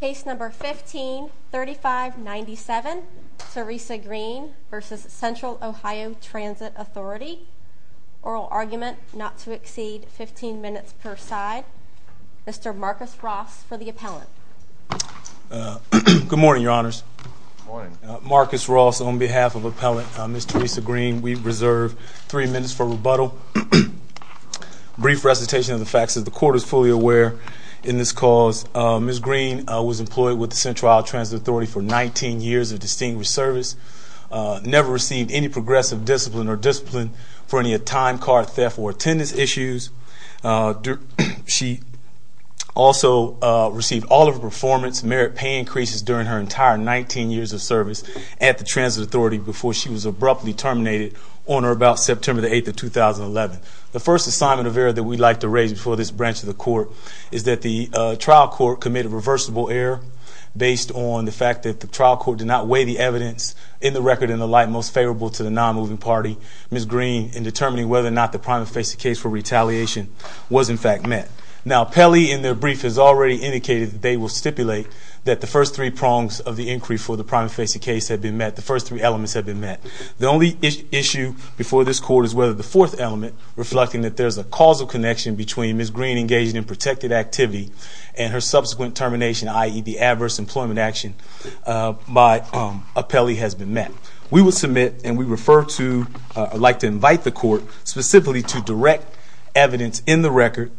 Case number 153597 Teresa Green v. Central Ohio Transit Authority. Oral argument not to exceed 15 minutes per side. Mr. Marcus Ross for the appellant. Good morning your honors. Marcus Ross on behalf of appellant Miss Teresa Green. We reserve three minutes for rebuttal. Brief recitation of the facts as the court is fully aware in this cause. Miss Green was employed with the Central Ohio Transit Authority for 19 years of distinguished service. Never received any progressive discipline or discipline for any a time card theft or attendance issues. She also received all of her performance merit pay increases during her entire 19 years of service at the Transit Authority before she was abruptly terminated on or about September the 8th of 2011. The first assignment of error that we'd like to raise before this branch of the court is that the trial court committed reversible error based on the fact that the trial court did not weigh the evidence in the record in the light most favorable to the non-moving party. Miss Green in determining whether or not the primary facing case for retaliation was in fact met. Now Pelley in their brief has already indicated that they will stipulate that the first three prongs of the inquiry for the primary facing case have been met. The first three elements have been met. The only issue before this court is whether the there's a causal connection between Miss Green engaging in protected activity and her subsequent termination, i.e. the adverse employment action by Pelley has been met. We will submit and we refer to, I'd like to invite the court specifically to direct evidence in the record,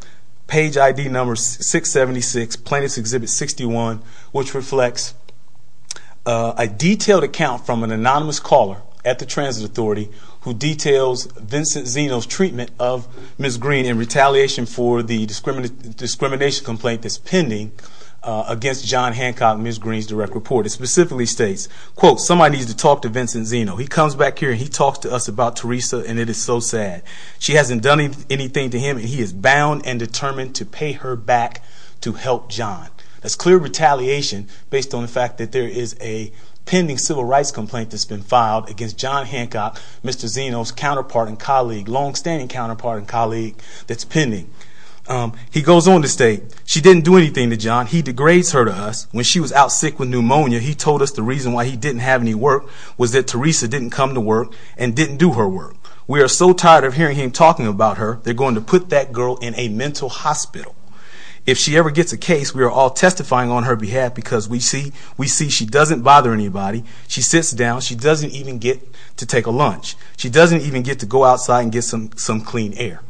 page ID number 676, plaintiff's exhibit 61, which reflects a detailed account from an anonymous caller at the Transit Authority who details Vincent Zeno's treatment of Miss Green in retaliation for the discrimination complaint that's pending against John Hancock, Miss Green's direct report. It specifically states, quote, somebody needs to talk to Vincent Zeno. He comes back here and he talks to us about Teresa and it is so sad. She hasn't done anything to him and he is bound and determined to pay her back to help John. That's clear retaliation based on the fact that there is a pending civil rights complaint that's been filed against John Hancock, Mr. Zeno's counterpart and colleague, long-standing counterpart and colleague that's pending. He goes on to state, she didn't do anything to John. He degrades her to us. When she was out sick with pneumonia, he told us the reason why he didn't have any work was that Teresa didn't come to work and didn't do her work. We are so tired of hearing him talking about her. They're going to put that girl in a mental hospital. If she ever gets a case, we are all testifying on her behalf because we see she doesn't bother anybody. She sits down. She doesn't even get to take a lunch. She doesn't even get to go outside and get some clean air.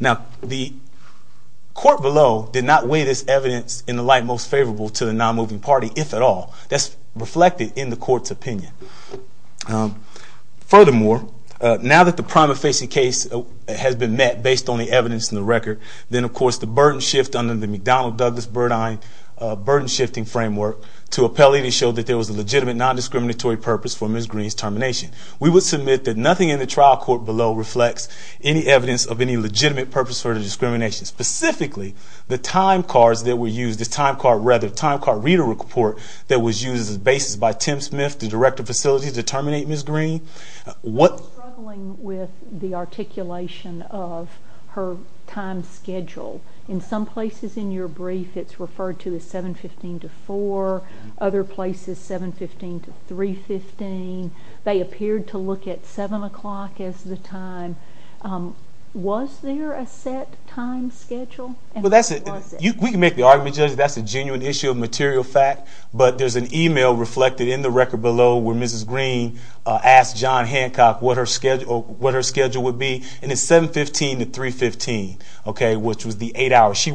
Now the court below did not weigh this evidence in the light most favorable to the non-moving party, if at all. That's reflected in the court's opinion. Furthermore, now that the prima facie case has been met based on the evidence and the record, then of course the burden shift under the burden shifting framework to appellee to show that there was a legitimate non-discriminatory purpose for Ms. Greene's termination. We would submit that nothing in the trial court below reflects any evidence of any legitimate purpose for the discrimination. Specifically, the time cards that were used, the time card reader report that was used as basis by Tim Smith, the director of facilities to terminate Ms. Greene. I'm struggling with the articulation of her time schedule. In some places in your brief it's referred to as 7.15 to 4. Other places 7.15 to 3.15. They appeared to look at 7 o'clock as the time. Was there a set time schedule? We can make the argument, Judge, that's a genuine issue of material fact, but there's an email reflected in the record below where Ms. Greene asked John Hancock what her schedule would be. It's 7.15 to 3.15, which was the eight hours. As a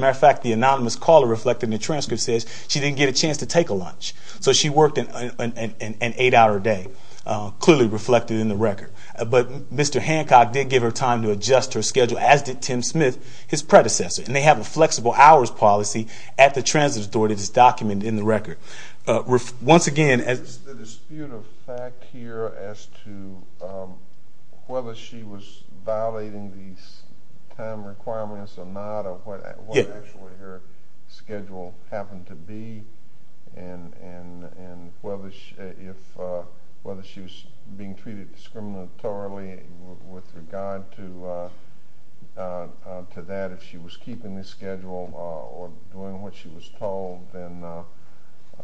matter of fact, the anonymous caller reflected in the transcript says she didn't get a chance to take a lunch. So she worked an eight-hour day, clearly reflected in the record. But Mr. Hancock did give her time to adjust her schedule, as did Tim Smith, his predecessor. And they have a flexible hours policy at the transit authority that's documented in the record. Once again, as... Is there a dispute of fact here as to whether she was violating these time schedules? I think that's what actually her schedule happened to be, and whether she was being treated discriminatorily with regard to that, if she was keeping this schedule or doing what she was told, then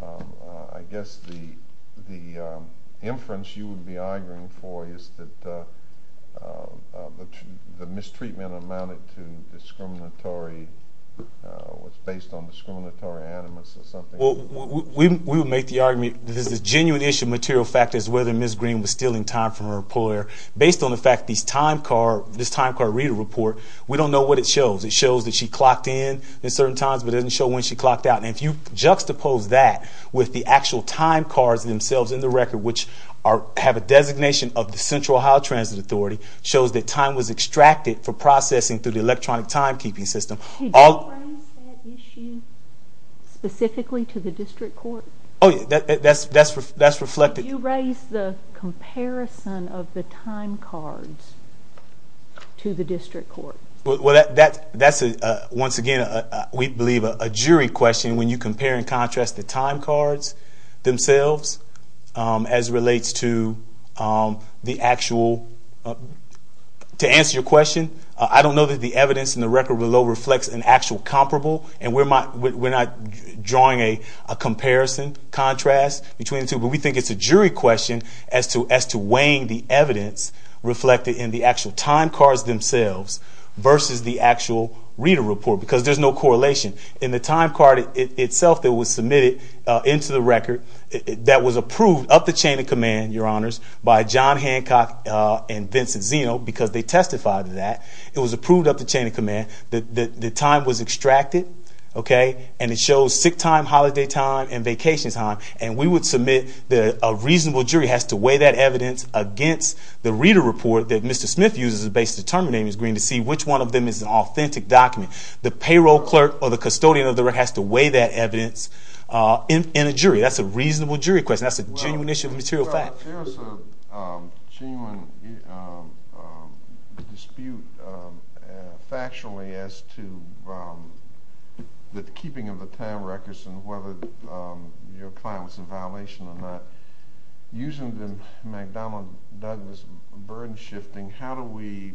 I guess the inference you would be arguing for is that the mistreatment amounted to discriminatory, was based on discriminatory animus or something. We would make the argument that the genuine issue of material fact is whether Ms. Greene was stealing time from her employer. Based on the fact that this time card reader report, we don't know what it shows. It shows that she clocked in at certain times, but it doesn't show when she clocked out. And if you juxtapose that with the actual time cards themselves in the record, which have a designation of the Central Ohio Transit Authority, shows that time was extracted for processing through the electronic timekeeping system. Did you raise that issue specifically to the district court? Oh, yeah. That's reflected. Did you raise the comparison of the time cards to the district court? Well, that's, once again, we believe a jury question when you compare and compare as relates to the actual, to answer your question, I don't know that the evidence in the record below reflects an actual comparable, and we're not drawing a comparison, contrast between the two, but we think it's a jury question as to weighing the evidence reflected in the actual time cards themselves versus the actual reader report, because there's no correlation. In the time card itself that was submitted into the record, that was approved up the chain of command, your honors, by John Hancock and Vincent Zeno, because they testified to that. It was approved up the chain of command. The time was extracted, okay, and it shows sick time, holiday time, and vacation time, and we would submit that a reasonable jury has to weigh that evidence against the reader report that Mr. Smith uses based on the term name is green to see which one of them is an authentic document. The payroll clerk or the custodian of the record has to weigh that evidence in a jury. That's a reasonable jury question. That's a genuine issue of material fact. Well, there's a genuine dispute factually as to the keeping of the time records and whether your client was in violation or not. Using the McDonnell-Douglas burden shifting, how do we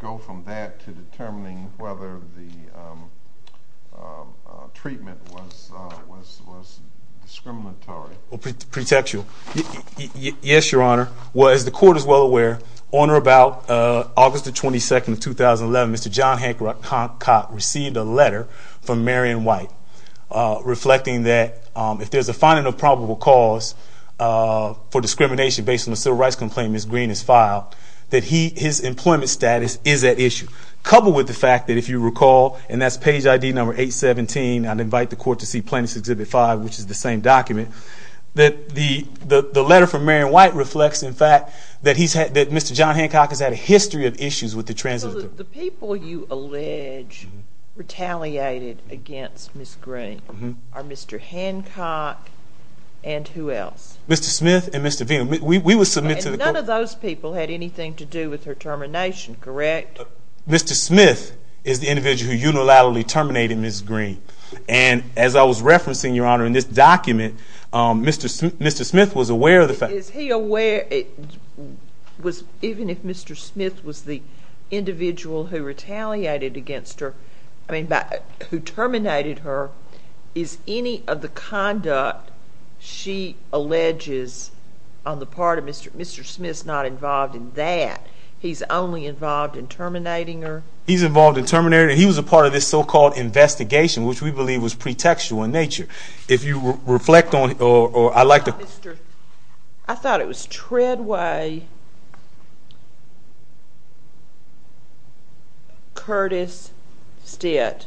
go from that to determining whether the record was discriminatory? Pretextual. Yes, your honor. Well, as the court is well aware, on or about August the 22nd of 2011, Mr. John Hancock received a letter from Marion White reflecting that if there's a finding of probable cause for discrimination based on the civil rights complaint Ms. Green has filed, that his employment status is at issue. Coupled with the fact that if you recall, and that's page ID number 817, I'd invite the court to see Plaintiff's Exhibit 5, which is the same document, that the letter from Marion White reflects, in fact, that Mr. John Hancock has had a history of issues with the transitory... So the people you allege retaliated against Ms. Green are Mr. Hancock and who else? Mr. Smith and Mr. Veneman. We would submit to the court... None of those people had anything to do with her termination, correct? Mr. Smith is the individual who unilaterally terminated Ms. Green. And as I was referencing, your honor, in this document, Mr. Smith was aware of the fact... Is he aware... Even if Mr. Smith was the individual who retaliated against her, who terminated her, is any of the conduct she alleges on the part of Mr. Smith's not involved in that? He's only involved in terminating her? He's involved in terminating... He was a part of this so called investigation, which we believe was pretextual in nature. If you reflect on... Or I like to... I thought it was Treadway, Curtis Stitt,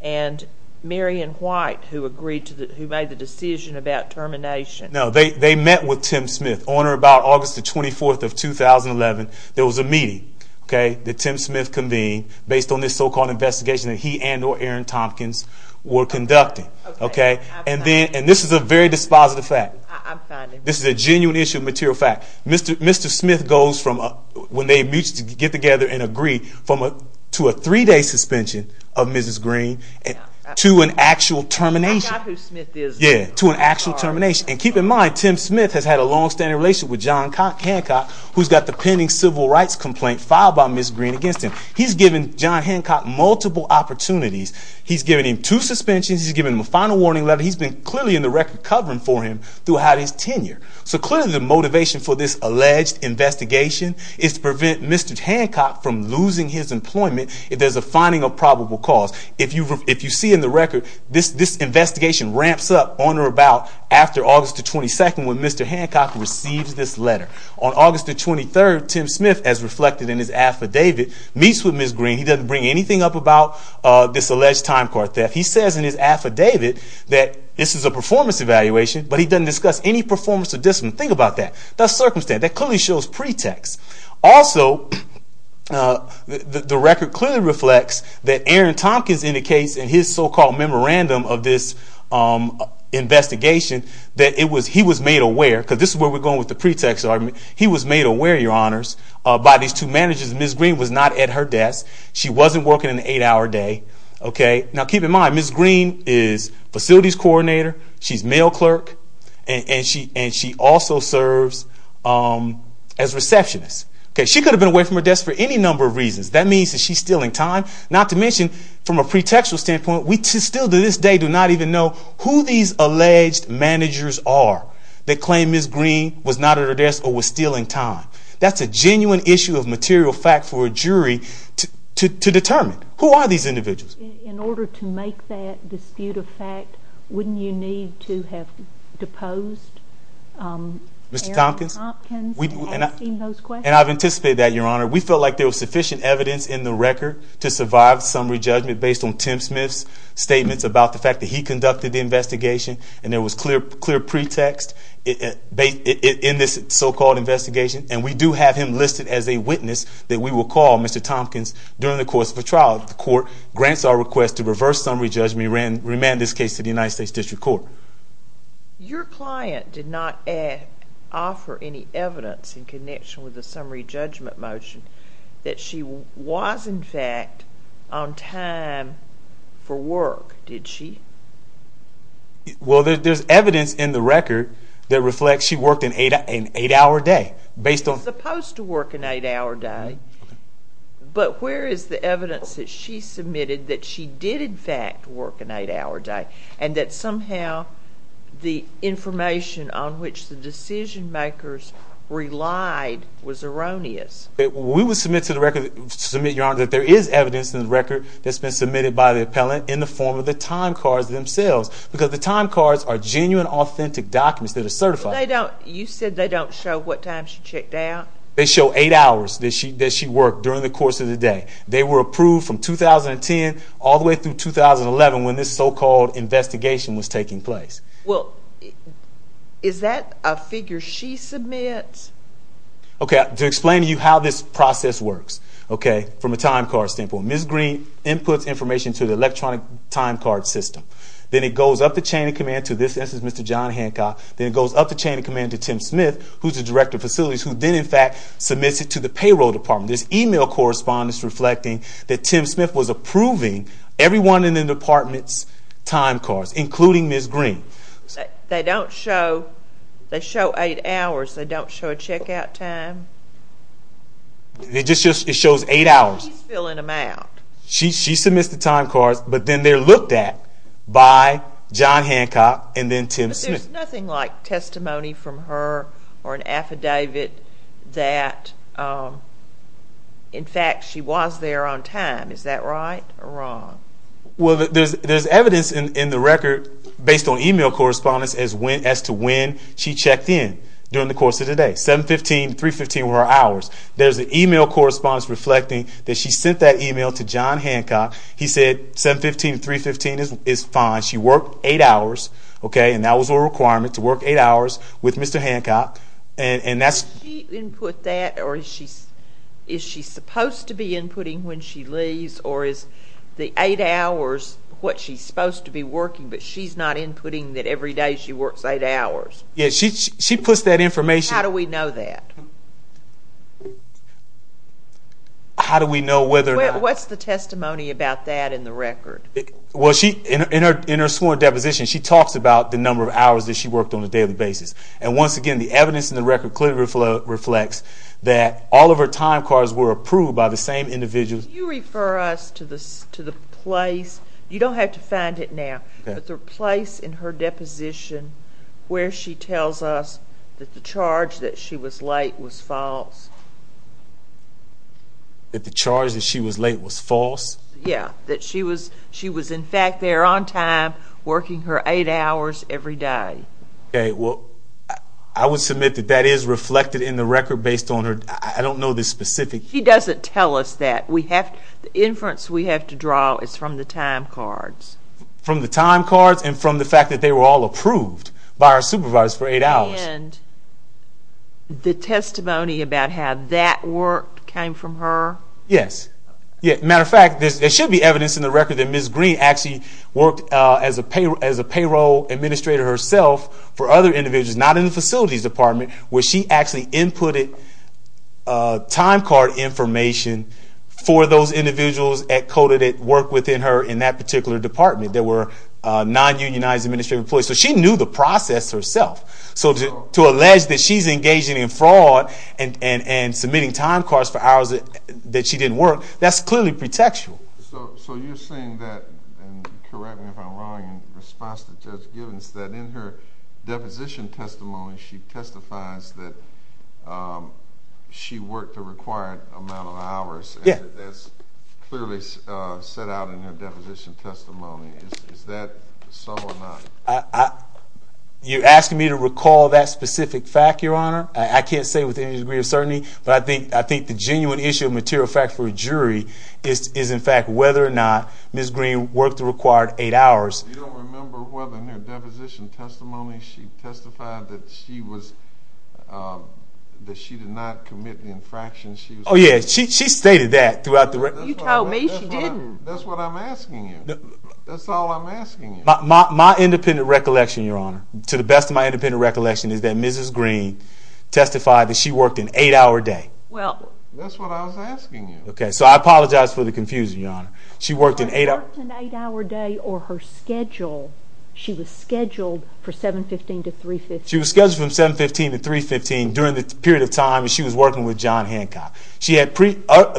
and Marion White who agreed to the... Who made the decision about termination. No, they met with Tim Smith on or about August the 18th, based on this so called investigation that he and or Aaron Tompkins were conducting. Okay. And then... And this is a very dispositive fact. I'm fine. This is a genuine issue of material fact. Mr. Smith goes from... When they get together and agree to a three day suspension of Mrs. Green to an actual termination. I got who Smith is. Yeah, to an actual termination. And keep in mind, Tim Smith has had a long standing relationship with John Hancock, who's got the pending civil rights complaint filed by Mrs. Green against him. He's given John Hancock multiple opportunities. He's given him two suspensions. He's given him a final warning letter. He's been clearly in the record covering for him throughout his tenure. So clearly the motivation for this alleged investigation is to prevent Mr. Hancock from losing his employment if there's a finding of probable cause. If you see in the record, this investigation ramps up on or about after August the 22nd when Mr. Hancock receives this letter. On August the 23rd, Tim Smith, as reflected in his affidavit, meets with Mrs. Green. He doesn't bring anything up about this alleged time card theft. He says in his affidavit that this is a performance evaluation, but he doesn't discuss any performance of discipline. Think about that. That's circumstantial. That clearly shows pretext. Also, the record clearly reflects that Aaron Tompkins indicates in his so called memorandum of this investigation that he was made aware, because this is where we're talking about the employment, he was made aware, your honors, by these two managers. Mrs. Green was not at her desk. She wasn't working an eight-hour day. Now, keep in mind, Mrs. Green is facilities coordinator. She's mail clerk. And she also serves as receptionist. She could have been away from her desk for any number of reasons. That means that she's stealing time. Not to mention, from a pretextual standpoint, we still to this day do not even know who these alleged managers are that claim Mrs. Green was not at her desk or was stealing time. That's a genuine issue of material fact for a jury to determine. Who are these individuals? In order to make that dispute a fact, wouldn't you need to have deposed Aaron Tompkins? Mr. Tompkins? And I've anticipated that, your honor. We felt like there was sufficient evidence in the record to survive summary judgment based on Tim Smith's statements about the fact that he conducted the investigation. And there was clear pretext in this so-called investigation. And we do have him listed as a witness that we will call Mr. Tompkins during the course of the trial. The court grants our request to reverse summary judgment and remand this case to the United States District Court. Your client did not offer any evidence in connection with the summary judgment motion that she was, in fact, on time for work, did she? Well, there's evidence in the record that reflects she worked an eight-hour day based on... Supposed to work an eight-hour day. But where is the evidence that she submitted that she did, in fact, work an eight-hour day, and that somehow the information on which the decision makers relied was erroneous? We would submit to the record... Submit, your honor, that there is evidence in the record that's been submitted by the appellant in the form of the time cards themselves. Because the time cards are genuine, authentic documents that are certified. You said they don't show what times she checked out? They show eight hours that she worked during the course of the day. They were approved from 2010 all the way through 2011 when this so-called investigation was taking place. Well, is that a figure she submits? Okay, to explain to you how this process works, okay, from a time card standpoint, Ms. Green inputs information to the electronic time card system. Then it goes up the chain of command to, this is Mr. John Hancock, then it goes up the chain of command to Tim Smith, who's the director of facilities, who then, in fact, submits it to the payroll department. There's email correspondence reflecting that Tim Smith was approving everyone in the department's time cards, including Ms. Green. They don't show... They show eight hours. They don't show a checkout time? It just shows eight hours. She's filling in the time cards, but then they're looked at by John Hancock and then Tim Smith. But there's nothing like testimony from her or an affidavit that, in fact, she was there on time. Is that right or wrong? Well, there's evidence in the record based on email correspondence as to when she checked in during the course of the day. 7-15, 3-15 were her hours. There's an email correspondence reflecting that she sent that email to John Hancock. He said, 7-15, 3-15 is fine. She worked eight hours, okay, and that was a requirement, to work eight hours with Mr. Hancock. And that's... Did she input that or is she supposed to be inputting when she leaves or is the eight hours what she's supposed to be working, but she's not inputting that every day she works eight hours? Yeah, she puts that information... How do we know that? How do we know whether or not... What's the testimony about that in the record? Well, she... In her sworn deposition, she talks about the number of hours that she worked on a daily basis. And once again, the evidence in the record clearly reflects that all of her time cards were approved by the same individual. Can you refer us to the place... You don't have to find it now, but the place in her deposition where she tells us that the charge that she was late was false? That the charge that she was late was false? Yeah, that she was in fact there on time, working her eight hours every day. Okay, well, I would submit that that is reflected in the record based on her... I don't know the specific... She doesn't tell us that. The inference we have to draw is from the time cards. From the time cards and the testimony about how that worked came from her? Yes. Matter of fact, there should be evidence in the record that Ms. Green actually worked as a payroll administrator herself for other individuals, not in the Facilities Department, where she actually inputted time card information for those individuals at CODA that worked within her in that particular department that were non unionized administrative employees. So she knew the process herself. So to allege that she's engaging in fraud and submitting time cards for hours that she didn't work, that's clearly pretextual. So you're saying that, and correct me if I'm wrong in response to Judge Givens, that in her deposition testimony, she testifies that she worked the required amount of hours. Yeah. That's clearly set out in her deposition testimony. Is that so or not? You're asking me to recall that specific fact, Your Honor? I can't say with any degree of certainty, but I think the genuine issue of material fact for a jury is, in fact, whether or not Ms. Green worked the required eight hours. You don't remember whether in her deposition testimony she testified that she was... That she did not commit the infraction she was... Oh, yeah. She stated that throughout the record. You told me she didn't. That's what I'm asking you. That's all I'm asking you. My independent recollection, Your Honor, to the best of my independent recollection, is that Mrs. Green testified that she worked an eight hour day. Well... That's what I was asking you. Okay. So I apologize for the confusion, Your Honor. She worked an eight hour... She worked an eight hour day or her schedule, she was scheduled for 715 to 315. She was scheduled from 715 to 315 during the period of time that she was working with John Hancock. She had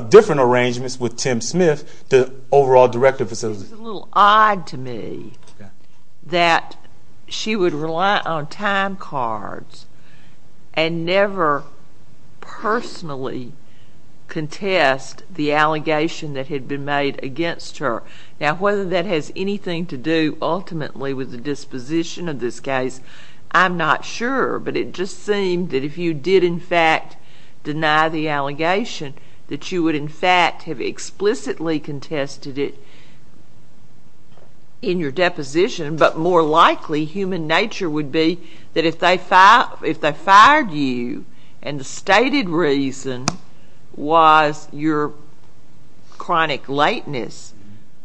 different arrangements with Tim Smith, the overall director of facilities. It's a little odd to me that she would rely on timecards and never personally contest the allegation that had been made against her. Now, whether that has anything to do ultimately with the disposition of this case, I'm not sure, but it just seemed that if you did, in fact, deny the allegation, that you would, in fact, have explicitly contested it in your deposition. But more likely, human nature would be that if they fired you and the stated reason was your chronic lateness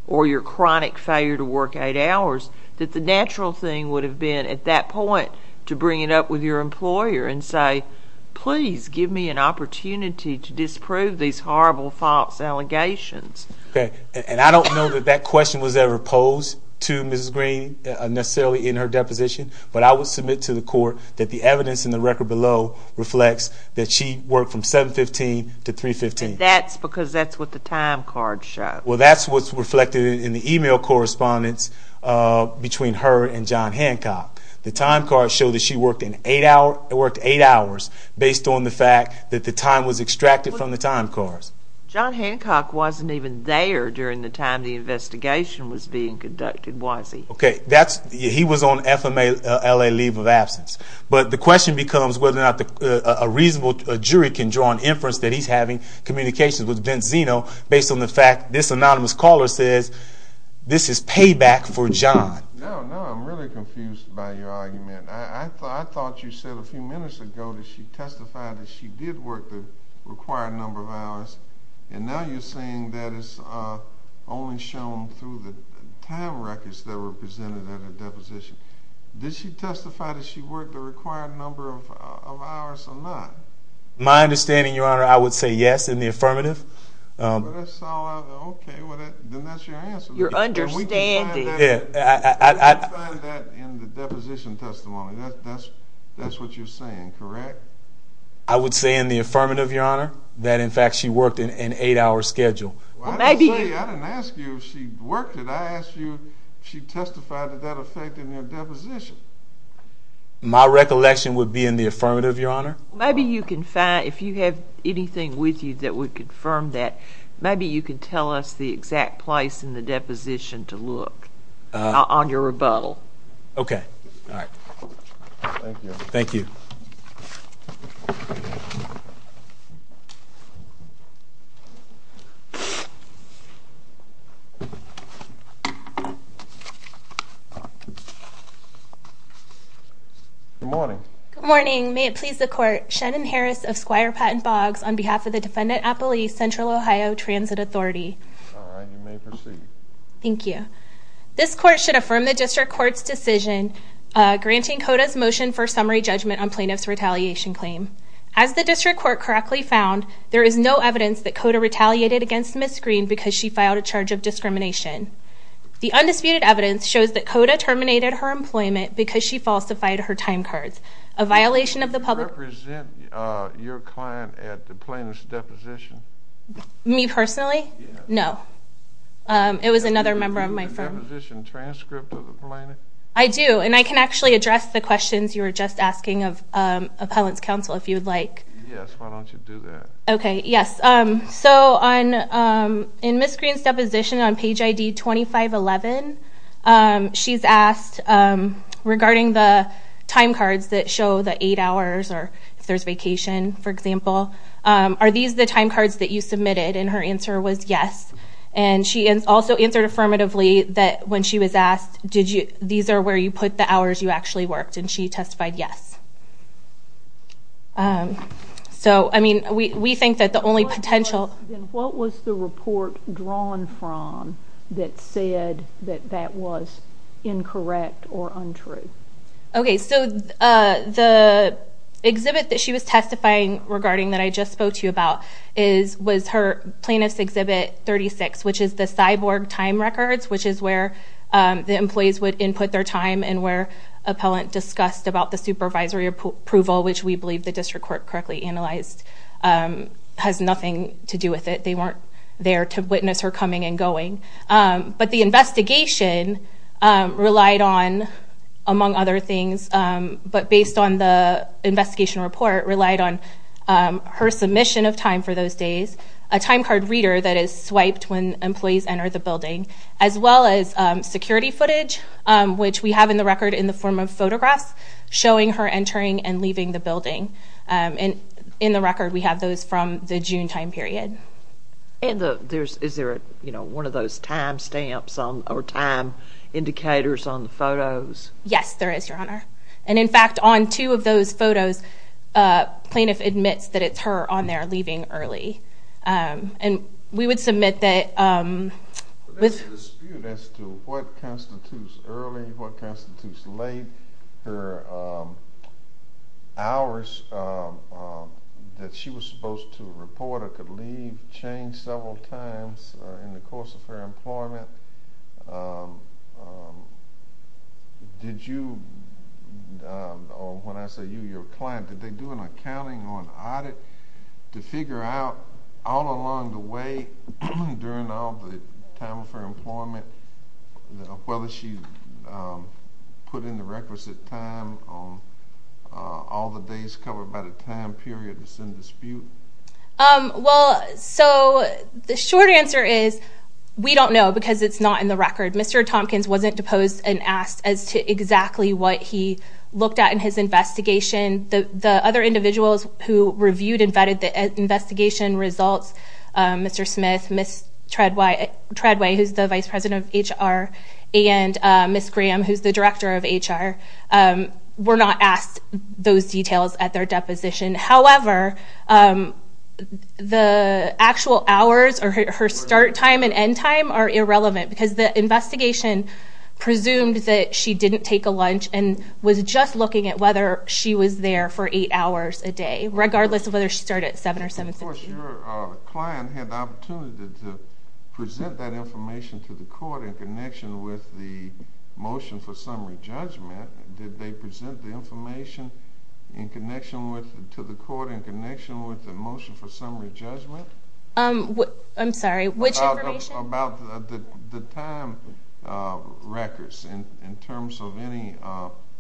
or your chronic failure to work eight hours, that the natural thing would have been at that point to bring it up with your deposition. So, please give me an opportunity to disprove these horrible false allegations. Okay. And I don't know that that question was ever posed to Mrs. Green necessarily in her deposition, but I would submit to the court that the evidence in the record below reflects that she worked from 715 to 315. And that's because that's what the timecards show. Well, that's what's reflected in the email correspondence between her and John Hancock based on the fact that the time was extracted from the timecards. John Hancock wasn't even there during the time the investigation was being conducted, was he? Okay. He was on FMLA leave of absence. But the question becomes whether or not a reasonable jury can draw an inference that he's having communications with Ben Zeno based on the fact this anonymous caller says this is payback for John. No, no. I'm really confused by your argument. I thought you said a few minutes ago that she testified that she did work the required number of hours. And now you're saying that it's only shown through the time records that were presented at a deposition. Did she testify that she worked the required number of hours or not? My understanding, Your Honor, I would say yes in the affirmative. Okay. Well, then that's your answer. You're understanding. Yeah, I that's what you're saying. Correct. I would say in the affirmative, Your Honor, that in fact she worked in an eight hour schedule. Maybe I didn't ask you. She worked it. I asked you. She testified to that effect in their deposition. My recollection would be in the affirmative, Your Honor. Maybe you can find if you have anything with you that would confirm that. Maybe you could tell us the exact place in the deposition to look on your rebuttal. Okay. All right. Thank you. Thank you. Good morning. Good morning. May it please the court. Shannon Harris of Squire Patent Boggs on behalf of the defendant, Apple East Central Ohio Transit Authority. All right. You may proceed. Thank you. This court should affirm the district court's decision granting Coda's motion for summary judgment on plaintiff's retaliation claim. As the district court correctly found, there is no evidence that Coda retaliated against Ms. Green because she filed a charge of discrimination. The undisputed evidence shows that Coda terminated her employment because she falsified her time cards, a violation of the public... Do you represent your client at the plaintiff's deposition? Me personally? No. It was another member of my firm. Do you have a deposition transcript of the plaintiff? I do. And I can actually address the questions you were just asking of appellant's counsel, if you would like. Yes. Why don't you do that? Okay. Yes. So, in Ms. Green's deposition on page ID 2511, she's asked, regarding the time cards that show the eight submitted, and her answer was yes. And she also answered affirmatively that when she was asked, these are where you put the hours you actually worked, and she testified yes. So, I mean, we think that the only potential... And what was the report drawn from that said that that was incorrect or untrue? Okay. So, the exhibit that she was testifying regarding that I was her plaintiff's exhibit 36, which is the cyborg time records, which is where the employees would input their time and where appellant discussed about the supervisory approval, which we believe the district court correctly analyzed, has nothing to do with it. They weren't there to witness her coming and going. But the investigation relied on, among other things, but based on the investigation report, relied on her submission of time for those days, a time card reader that is swiped when employees enter the building, as well as security footage, which we have in the record in the form of photographs showing her entering and leaving the building. In the record, we have those from the June time period. And is there one of those time stamps or time indicators on the photos? Yes, there is, Your Honor. And in fact, on two of those photos, a plaintiff admits that it's her on there leaving early. And we would submit that... There's a dispute as to what constitutes early, what constitutes late. Her hours that she was supposed to report or could leave changed several times in the course of her employment. Did you... Or when I say you, your client, did they do an accounting or an audit to figure out, all along the way during all the time of her employment, whether she put in the requisite time on all the days covered by the time period that's in dispute? Well, so the short answer is, we don't know because it's not in the record. Mr. Tompkins wasn't deposed and asked as to exactly what he looked at in his investigation. The other individuals who reviewed and vetted the investigation results, Mr. Smith, Ms. Treadway, who's the Vice President of HR, and Ms. Graham, who's the Director of HR, were not asked those details at their deposition. However, the actual hours or her start time and end time are irrelevant because the investigation presumed that she didn't take a lunch and was just looking at whether she was there for eight hours a day, regardless of whether she started at 7 or 7.30. Of course, your client had the opportunity to present that information to the court in connection with the motion for summary judgment. Did they present the information in connection with, to the court in connection with the motion for summary judgment? I'm sorry, which information? About the time records in terms of any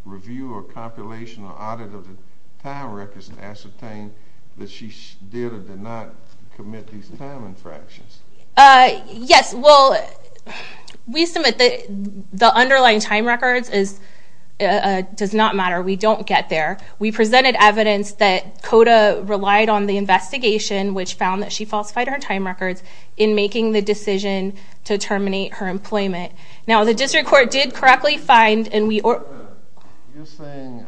review or compilation or audit of the time records to ascertain that she did or did not commit these time infractions. Yes. Well, we submit the underlying time records is... We presented evidence that COTA relied on the investigation, which found that she falsified her time records in making the decision to terminate her employment. Now, the district court did correctly find and we... COTA, you're saying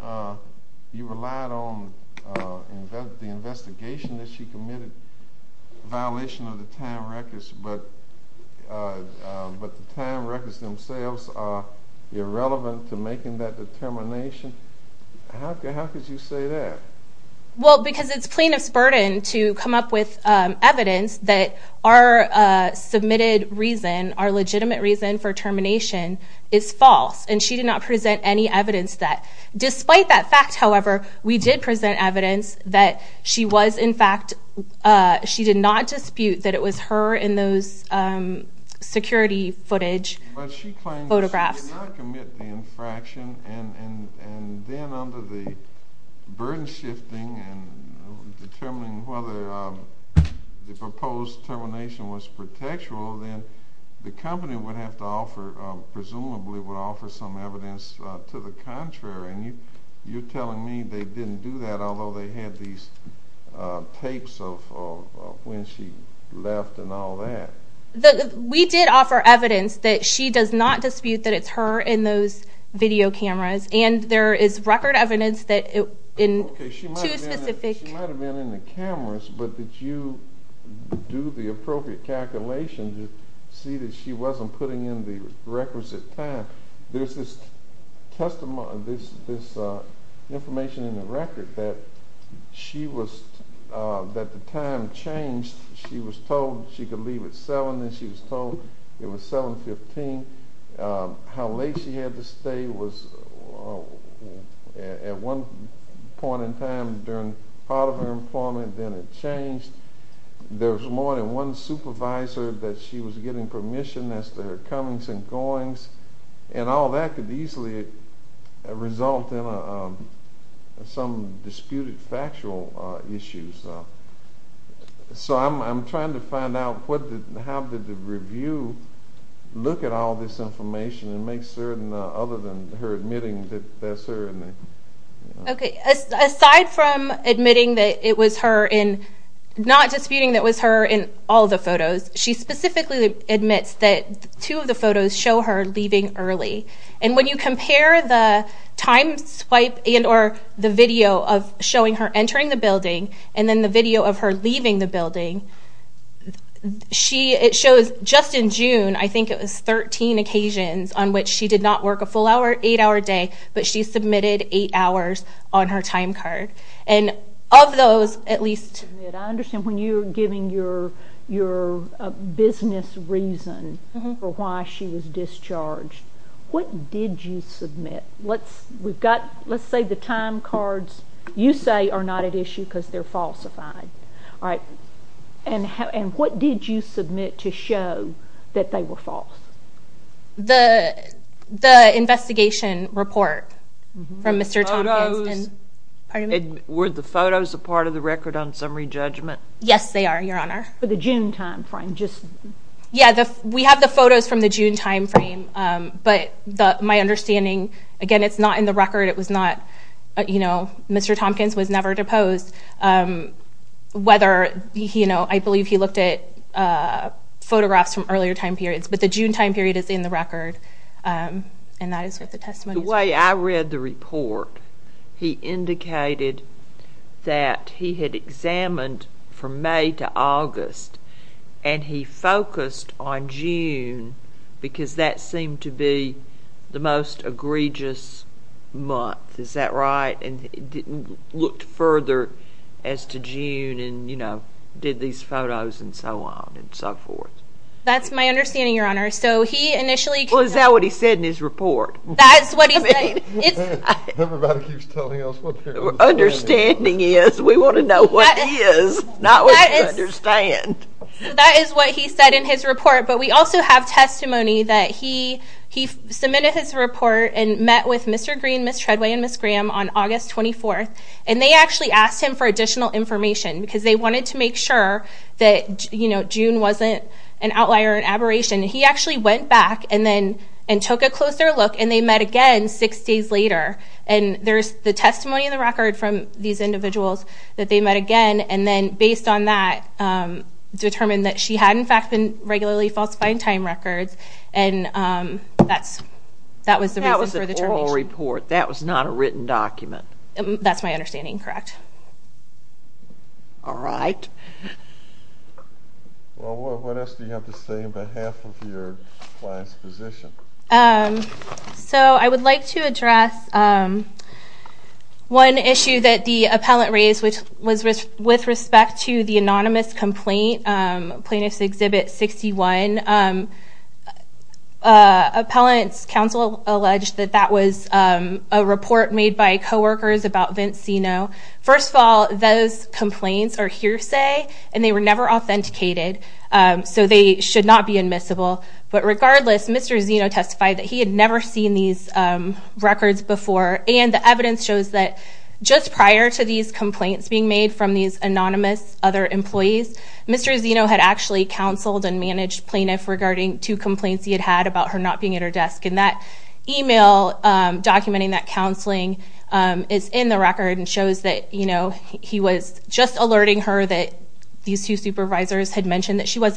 you relied on the investigation that she committed, a violation of the time records, but the time records themselves are irrelevant to making that determination? How could you say that? Well, because it's plaintiff's burden to come up with evidence that our submitted reason, our legitimate reason for termination is false, and she did not present any evidence that. Despite that fact, however, we did present evidence that she was in fact... She did not dispute that it was her in those security footage, photographs. But she claimed that she did not commit the infraction, and then under the burden shifting and determining whether the proposed termination was pretextual, then the company would have to offer, presumably would offer some evidence to the contrary. And you're telling me they didn't do that, although they had these tapes of when she left and all that. We did offer evidence that she does not dispute that it's her in those video cameras, and there is record evidence that in two specific... Okay, she might have been in the cameras, but did you do the appropriate calculation to see that she wasn't putting in the requisite time? There's this information in the record that the time changed, she was told she could leave at seven, then she was told it was 7.15. How late she had to stay was at one point in time during part of her employment, then it changed. There was more than one supervisor that she was getting permission as to her comings and goings, and all that could easily result in some disputed factual issues. So I'm trying to find out how did the review look at all this information and make certain, other than her admitting that that's her in the... Okay, aside from admitting that it was her in... Not disputing that it was her in all the photos, she specifically admits that two of the photos show her leaving early. And when you compare the time swipe and or the video of showing her entering the building, and then the video of her leaving the building, it shows just in June, I think it was 13 occasions on which she did not work a full hour, eight hour day, but she submitted eight hours on her time card. And of those, at least... I understand when you're giving your business reason for why she was discharged, what did you submit? Let's... We've got... Let's say the time cards you say are not at issue, because they're falsified. Alright. And what did you submit to show that they were false? The investigation report from Mr. Tompkins and... Photos. Pardon me? Were the photos a part of the record on summary judgment? Yes, they are, Your Honor. For the June timeframe, just... Yeah, we have the understanding... Again, it's not in the record, it was not... Mr. Tompkins was never deposed. Whether... I believe he looked at photographs from earlier time periods, but the June time period is in the record, and that is what the testimony is... The way I read the report, he indicated that he had examined from May to August, and he focused on June, because that seemed to be the most egregious month. Is that right? And he didn't look further as to June, and did these photos, and so on, and so forth. That's my understanding, Your Honor. So he initially... Well, is that what he said in his report? That's what he said. It's... Everybody keeps telling us what their understanding is. What their understanding is. We wanna know what it is, not what you understand. That is what he said in his report, but we also have testimony that he submitted his report and met with Mr. Green, Ms. Treadway, and Ms. Graham on August 24th, and they actually asked him for additional information, because they wanted to make sure that June wasn't an outlier, an aberration. He actually went back and took a closer look, and they met again six days later. And there's the testimony in the record from these individuals that they met again, and then based on that, determined that she had, in fact, been regularly falsifying time records, and that was the reason for the termination. That was an oral report. That was not a written document. That's my understanding, correct. Alright. Well, what else do you have to say on behalf of your client's position? So I would like to address one issue that the appellant raised, which was with respect to the anonymous complaint, Plaintiff's Exhibit 61. Appellant's counsel alleged that that was a report made by coworkers about Vince Zeno. First of all, those complaints are hearsay, and they were never authenticated, so they should not be admissible. But regardless, Mr. Zeno testified that he had never seen these records before, and the evidence shows that just prior to these complaints being made from these anonymous other employees, Mr. Zeno had actually counseled and managed plaintiff regarding two complaints he had had about her not being at her desk. And that email documenting that counseling is in the record and shows that he was just alerting her that these two supervisors had mentioned that she would,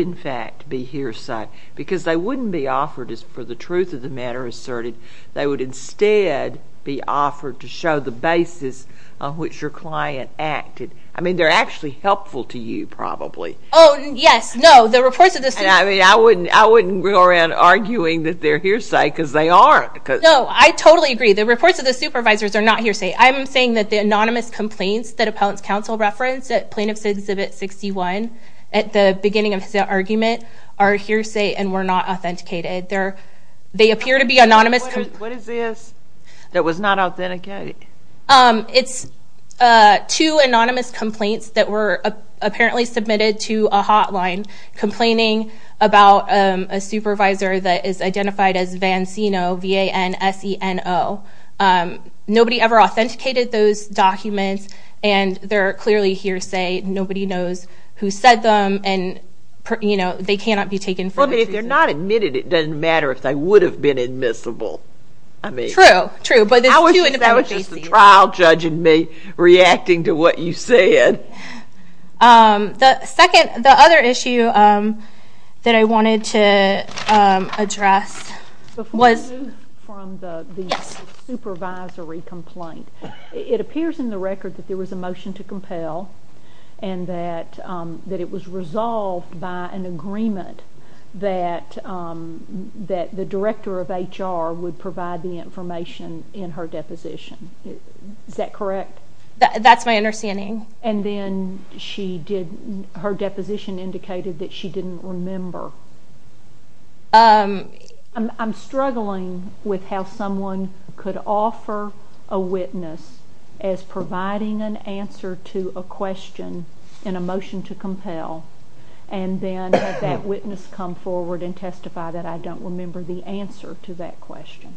in fact, be hearsay, because they wouldn't be offered, for the truth of the matter asserted, they would instead be offered to show the basis of which your client acted. I mean, they're actually helpful to you, probably. Oh, yes. No, the reports of this... And I wouldn't go around arguing that they're hearsay, because they aren't. No, I totally agree. The reports of the supervisors are not hearsay. I'm saying that the anonymous complaints that appellant's counsel referenced at Plaintiff's Exhibit 61, at the beginning of his argument, are hearsay and were not authenticated. They appear to be anonymous... What is this that was not authenticated? It's two anonymous complaints that were apparently submitted to a hotline complaining about a supervisor that is identified as Vanseno, V-A-N-S-E-N-O. Nobody ever authenticated those documents, and they're clearly hearsay. Nobody knows who said them, and they cannot be taken for that reason. Well, but if they're not admitted, it doesn't matter if they would have been admissible. I mean... True, true. But there's two individual cases. I wish that was just the trial judge and me reacting to what you said. The other issue that I wanted to address was... Before you move from the supervisory complaint, it appears in the record that there was a motion to that it was resolved by an agreement that the director of HR would provide the information in her deposition. Is that correct? That's my understanding. And then she did... Her deposition indicated that she didn't remember. I'm struggling with how someone could offer a witness as providing an answer to a question in a motion to compel, and then have that witness come forward and testify that I don't remember the answer to that question.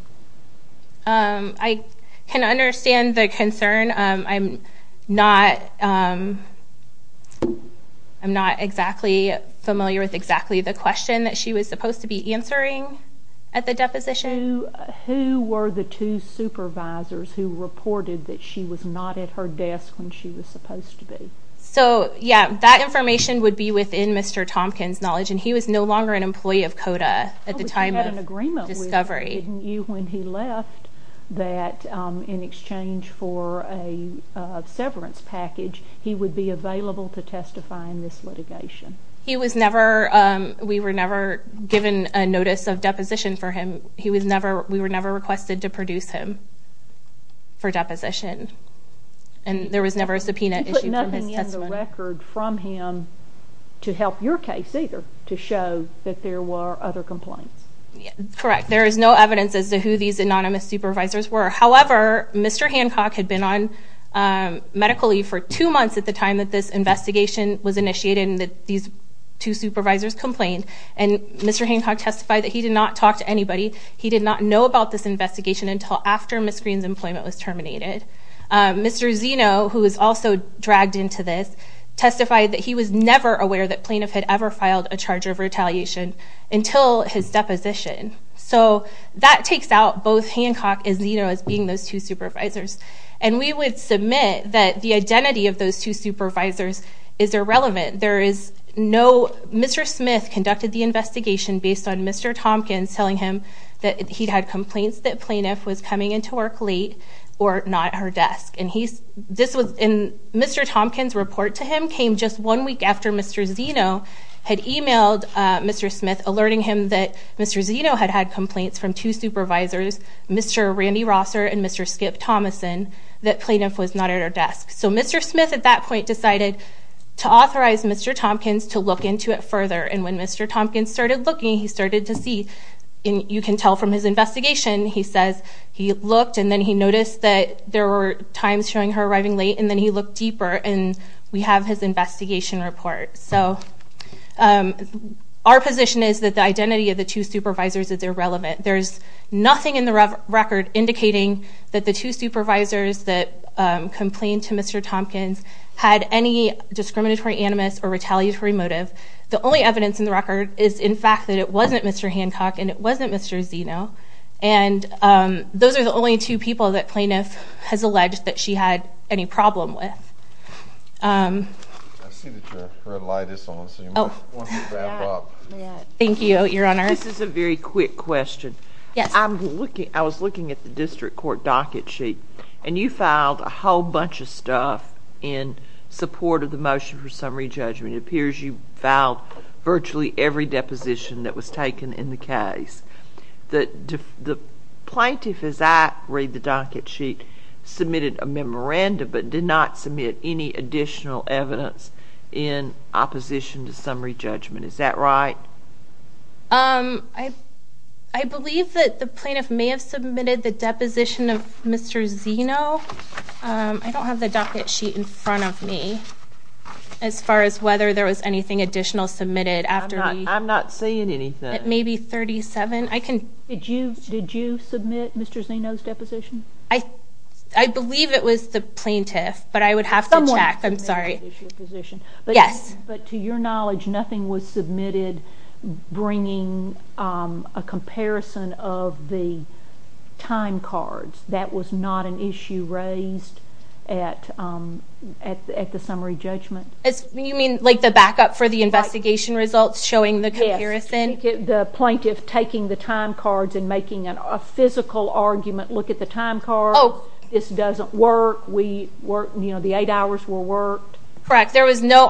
I can understand the concern. I'm not exactly familiar with exactly the question that she was supposed to be answering at the deposition. Who were the two supervisors who reported that she was not at her desk when she was supposed to be? So, yeah, that information would be within Mr. Tompkins' knowledge, and he was no longer an employee of CODA at the time of discovery. But you had an agreement with him, didn't you, when he left, that in exchange for a severance package, he would be available to testify in this litigation. He was never... We were never given a notice of deposition for him. He was never... We were never requested to produce him for deposition, and there was never a subpoena issued from his testimony. You put nothing in the record from him to help your case either, to show that there were other complaints. Correct. There is no evidence as to who these anonymous supervisors were. However, Mr. Hancock had been on medical leave for two months at the time that this investigation was initiated and that these two supervisors complained, and Mr. Hancock testified that he did not talk to anybody. He did not know about this investigation until after Ms. Green's employment was terminated. Mr. Zeno, who was also dragged into this, testified that he was never aware that Plaintiff had ever filed a charge of retaliation until his deposition. So that takes out both Hancock and Zeno as being those two supervisors. And we would submit that the identity of those two supervisors is irrelevant. There is no... Mr. Smith conducted the investigation based on Mr. Tompkins telling him that he'd had complaints that Plaintiff was coming into work late or not at her desk. And Mr. Tompkins' report to him came just one week after Mr. Zeno had emailed Mr. Smith alerting him that Mr. Zeno had had complaints from two supervisors, Mr. Randy Rosser and Mr. Skip Thomason, that Plaintiff was not at her desk. So Mr. Smith at that point decided to authorize Mr. Tompkins to look into it further. And when Mr. Tompkins started looking, he started to see, and you can tell from his investigation, he says he looked and then he noticed that there were times showing her arriving late and then he looked deeper and we have his investigation report. So our position is that the identity of the two supervisors is irrelevant. There's nothing in the record indicating that the two supervisors that complained to Mr. Tompkins had any discriminatory animus or retaliatory motive. The only evidence in the record is, in fact, that it wasn't Mr. Hancock and it wasn't Mr. Zeno. And those are the only two people that Plaintiff has alleged that she had any problem with. I see that your red light is on, so you might want to back up. Thank you, Your Honor. This is a very quick question. I was looking at the district court docket sheet and you filed a whole bunch of stuff in support of the motion for summary judgment. It appears you filed virtually every deposition that was taken in the case. The plaintiff, as I read the docket sheet, submitted a memorandum but did not submit any additional evidence in opposition to summary judgment. Is that right? I believe that the plaintiff may have submitted the deposition of Mr. Zeno. I don't have the docket sheet in front of me as far as whether there was anything additional submitted after the... I'm not seeing anything. It may be 37. I can... Did you submit Mr. Zeno's deposition? I believe it was the plaintiff, but I would have to check. Someone submitted an additional position. I'm sorry. Yes. But to your knowledge, nothing was submitted bringing a comparison of the time cards. That was not an issue raised at the summary judgment. You mean like the backup for the investigation results showing the comparison? Yes. The plaintiff taking the time cards and making a physical argument, look at the time card. Oh. This doesn't work. We work... The eight hours were worked. Correct. There was no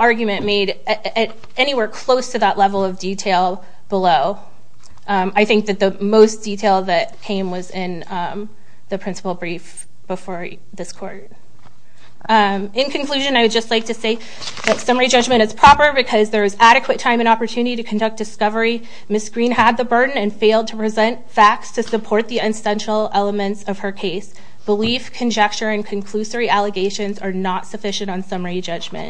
level of detail below. I think that the most detail that came was in the principal brief before this court. In conclusion, I would just like to say that summary judgment is proper because there is adequate time and opportunity to conduct discovery. Ms. Green had the burden and failed to present facts to support the essential elements of her case. Belief, conjecture, and conclusory allegations are not sufficient on summary judgment.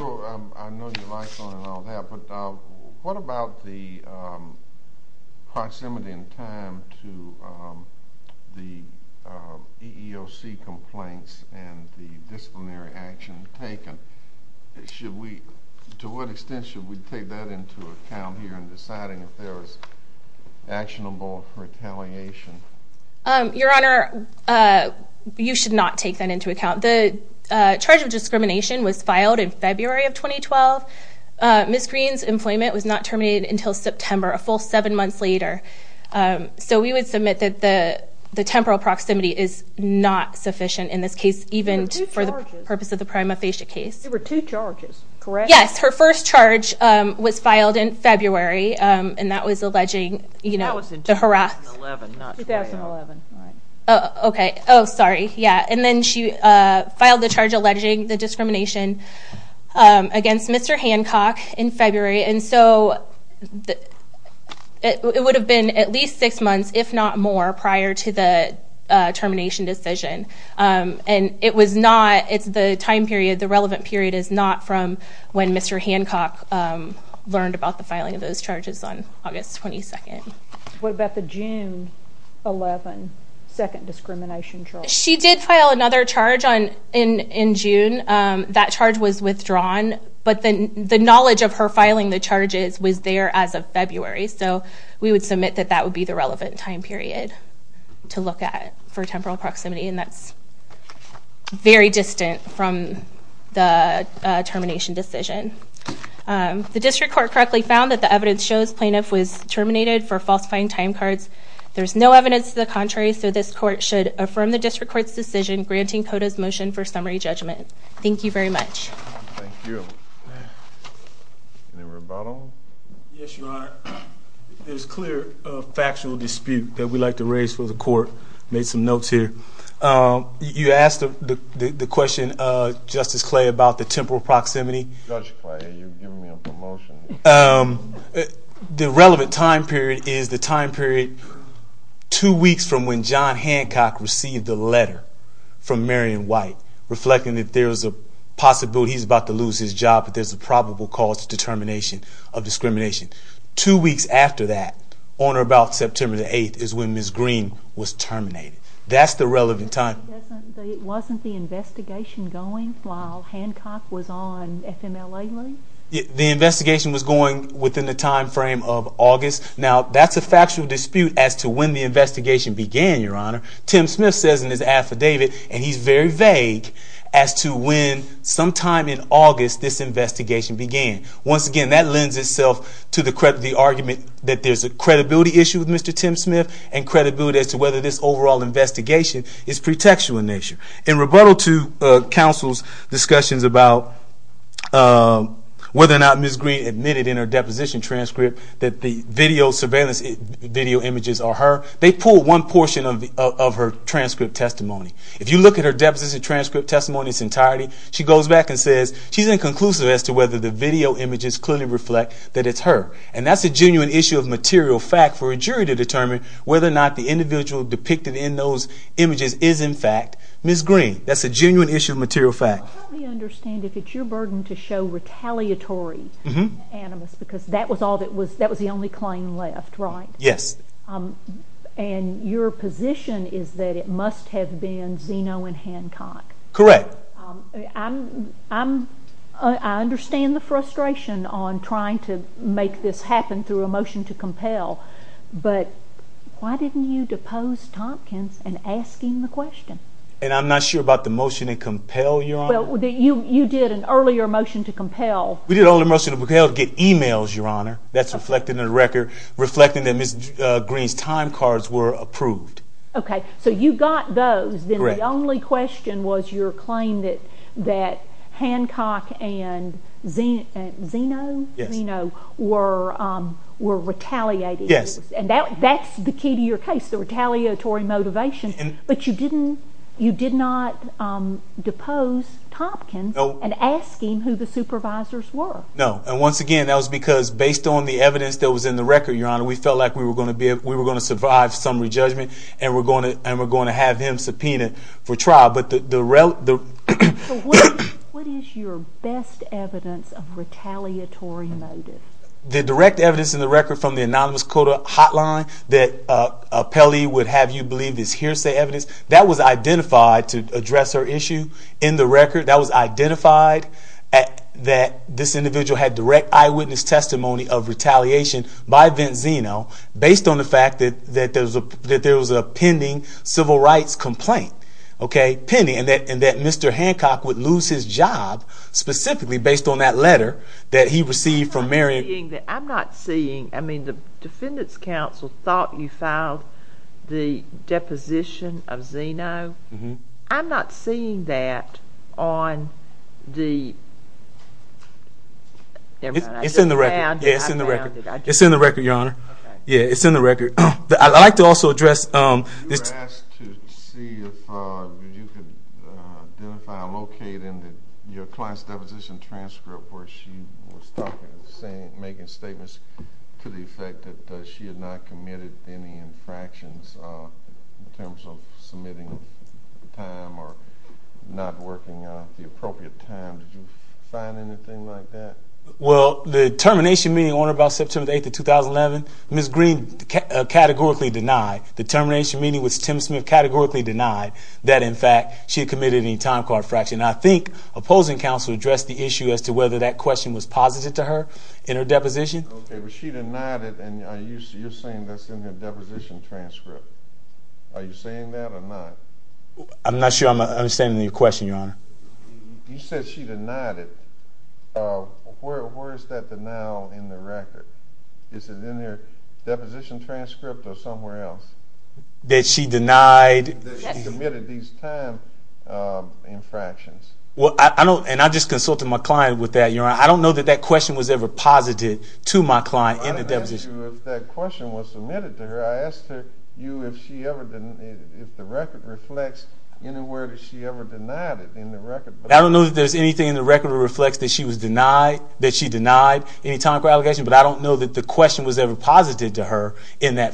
I know you're lifelong and all that, but what about the proximity and time to the EEOC complaints and the disciplinary action taken? Should we... To what extent should we take that into account here in deciding if there's actionable retaliation? Your honor, you should not take that into account. The charge of discrimination was filed in February of 2012. Ms. Green's employment was not terminated until September, a full seven months later. So we would submit that the temporal proximity is not sufficient in this case, even for the purpose of the prima facie case. There were two charges, correct? Yes. Her first charge was filed in 2011. Okay. Oh, sorry. Yeah. And then she filed the charge alleging the discrimination against Mr. Hancock in February. And so it would have been at least six months, if not more, prior to the termination decision. And it was not... It's the time period, the relevant period is not from when Mr. Hancock learned about the filing of those charges on August 22nd. What about the June 11 second discrimination charge? She did file another charge in June. That charge was withdrawn, but the knowledge of her filing the charges was there as of February. So we would submit that that would be the relevant time period to look at for temporal proximity, and that's very distant from the termination decision. The district court correctly found that the evidence shows plaintiff was terminated for falsifying time cards. There's no evidence to the contrary, so this court should affirm the district court's decision, granting CODA's motion for summary judgment. Thank you very much. Thank you. Any rebuttal? Yes, Your Honor. There's clear factual dispute that we'd like to raise for the court. Made some notes here. You asked the question, Justice Clay, about the temporal proximity. Judge Clay, you're giving me a promotion. The relevant time period is the time period two weeks from when John Hancock received the letter from Marian White, reflecting that there's a possibility he's about to lose his job, but there's a probable cause to determination of discrimination. Two weeks after that, on or about September the 8th, is when Ms. Green was terminated. That's the relevant time. But it wasn't the investigation going while Hancock was on FMLA? The investigation was going within the time frame of August. Now, that's a factual dispute as to when the investigation began, Your Honor. Tim Smith says in his affidavit, and he's very vague, as to when, sometime in August, this investigation began. Once again, that lends itself to the argument that there's a credibility issue with Mr. Tim Smith, and credibility as to whether this overall investigation is pretextual in nature. In rebuttal to counsel's discussions about whether or not Ms. Green admitted in her deposition transcript that the video surveillance, video images are her, they pulled one portion of her transcript testimony. If you look at her deposition transcript testimony in its entirety, she goes back and says she's inconclusive as to whether the video images clearly reflect that it's her. And that's a genuine issue of material fact for a jury to determine whether or not the individual depicted in those images is, in fact, Ms. Green. That's a genuine issue of material fact. Help me understand, if it's your burden to show retaliatory animus, because that was all that was... That was the only claim left, right? Yes. And your position is that it must have been Zeno and Hancock? Correct. I understand the frustration on trying to make this happen through a motion to compel, but why didn't you depose Tompkins in asking the question? And I'm not sure about the motion to compel, Your Honor. Well, you did an earlier motion to compel. We did an earlier motion to compel to get emails, Your Honor. That's reflecting the record, reflecting that Ms. Green's time cards were approved. Okay, so you got those, then the only question was your claim that Hancock and Zeno were retaliating. Yes. And that's the key to your case, the retaliatory motivation, but you did not depose Tompkins in asking who the supervisors were. No. And once again, that was because based on the evidence that was in the record, Your Honor, we felt like we were gonna survive some re judgment and we're gonna have him subpoenaed for trial, but the... What is your best evidence of retaliatory motive? The direct evidence in the record from the anonymous quota hotline that Pelley would have you believe this hearsay evidence, that was identified to address her issue in the record, that was identified that this individual had direct eyewitness testimony of retaliation by Vince Zeno based on the fact that there was a pending civil rights complaint, okay? Pending, and that Mr. Hancock would lose his job specifically based on that letter that he received from Mary... I'm not seeing... I mean, the Defendant's Council thought you filed the deposition of Zeno. I'm not seeing that on the... It's in the record. Yeah, it's in the record. It's in the record, Your Honor. Okay. Yeah, it's in the record. I'd like to also address... You were asked to see if you could identify or locate in your client's deposition transcript where she was talking and saying... Making statements to the effect that she had not committed any infractions in terms of submitting the time or not working the appropriate time. Did you find anything like that? Well, the termination meeting on about September 8th of 2011, Ms. Green categorically denied. The termination meeting was Tim Smith categorically denied that, in fact, she had committed any time card fraction. I think opposing counsel addressed the issue as to whether that question was posited to her in her deposition. Okay, but she denied it and you're saying that's in her deposition transcript. Are you saying that or not? I'm not sure I'm understanding your question, Your Honor. You said she denied it. Where is that denial in the record? Is it in her deposition transcript or somewhere else? That she denied... Yes. That she committed these time infractions. Well, I don't... And I just consulted my client with that, Your Honor. I don't know that that question was ever posited to my client in the deposition. I didn't ask you if that question was submitted to her. I asked you if she ever... If the record reflects anywhere that she ever denied it in the record. I don't know that there's anything in the record that she denied any time card allegation, but I don't know that the question was ever posited to her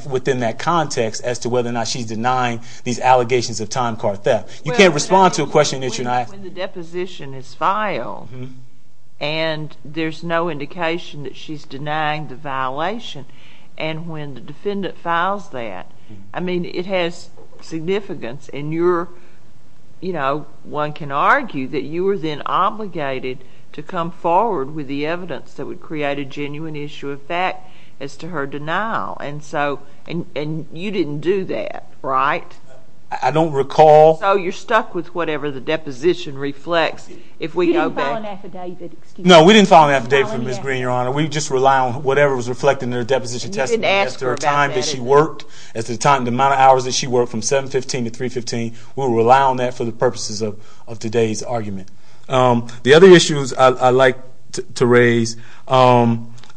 within that context as to whether or not she's denying these allegations of time card theft. You can't respond to a question that you're not... When the deposition is filed and there's no indication that she's denying the violation, and when the defendant files that, it has significance and you're... One can argue that you were then obligated to come forward with the evidence that would create a genuine issue of fact as to her denial. And you didn't do that, right? I don't recall. So you're stuck with whatever the deposition reflects if we go back... You didn't file an affidavit, excuse me. No, we didn't file an affidavit for Ms. Green, Your Honor. We just rely on whatever was reflected in her deposition testimony as to her time that she worked, as to the amount of hours that she worked from 715 to 315. We'll rely on that for the purposes of today's argument. The other issues I'd like to raise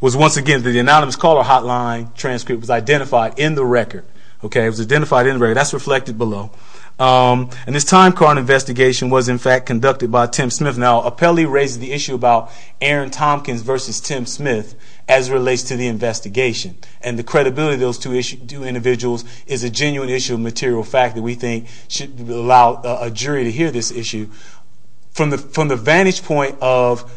was once again, the anonymous caller hotline transcript was identified in the record, okay? It was identified in the record. That's reflected below. And this time card investigation was in fact conducted by Tim Smith. Now, apparently raises the issue about Aaron Tompkins versus Tim Smith as relates to the investigation. And the credibility of those two individuals is a genuine issue of material fact that we think should allow a jury to hear this issue. From the vantage point of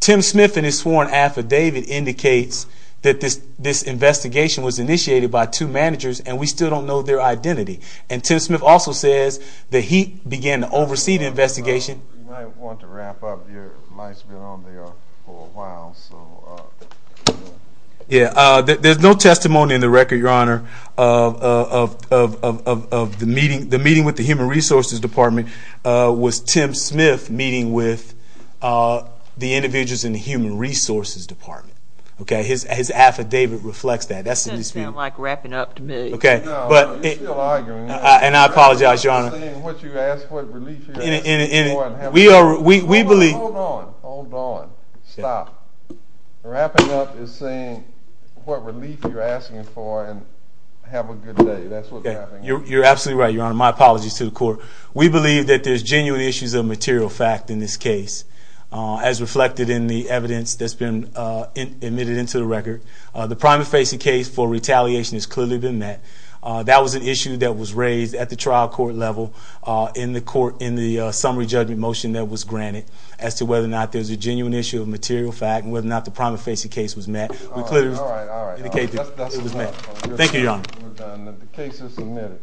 Tim Smith and his sworn affidavit indicates that this investigation was initiated by two managers and we still don't know their identity. And Tim Smith also says that he began to oversee the investigation. You might want to wrap up. Your mic's been on there for a while, so... Yeah, there's no testimony in the record, Your Honor, of the meeting... The meeting with the Human Resources Department was Tim Smith meeting with the individuals in the Human Resources Department, okay? His affidavit reflects that. That's... That doesn't sound like wrapping up to me. Okay. No, you're still arguing. And I apologize, Your Honor. Wrapping up is saying what you asked, what relief you're asking for and having... We believe... Hold on. Hold on. Stop. Wrapping up is saying what relief you're asking for and have a good day. That's what's happening. You're absolutely right, Your Honor. My apologies to the court. We believe that there's genuine issues of material fact in this case, as reflected in the evidence that's been admitted into the record. The prima facie case for retaliation has clearly been met. That was an issue that was raised at the trial court level in the court, in the summary judgment motion that was granted as to whether or not there's a genuine issue of material fact and whether or not the prima facie case was met. We clearly... Alright, alright. Indicate that it was met. Thank you, Your Honor. We're done. The case is submitted.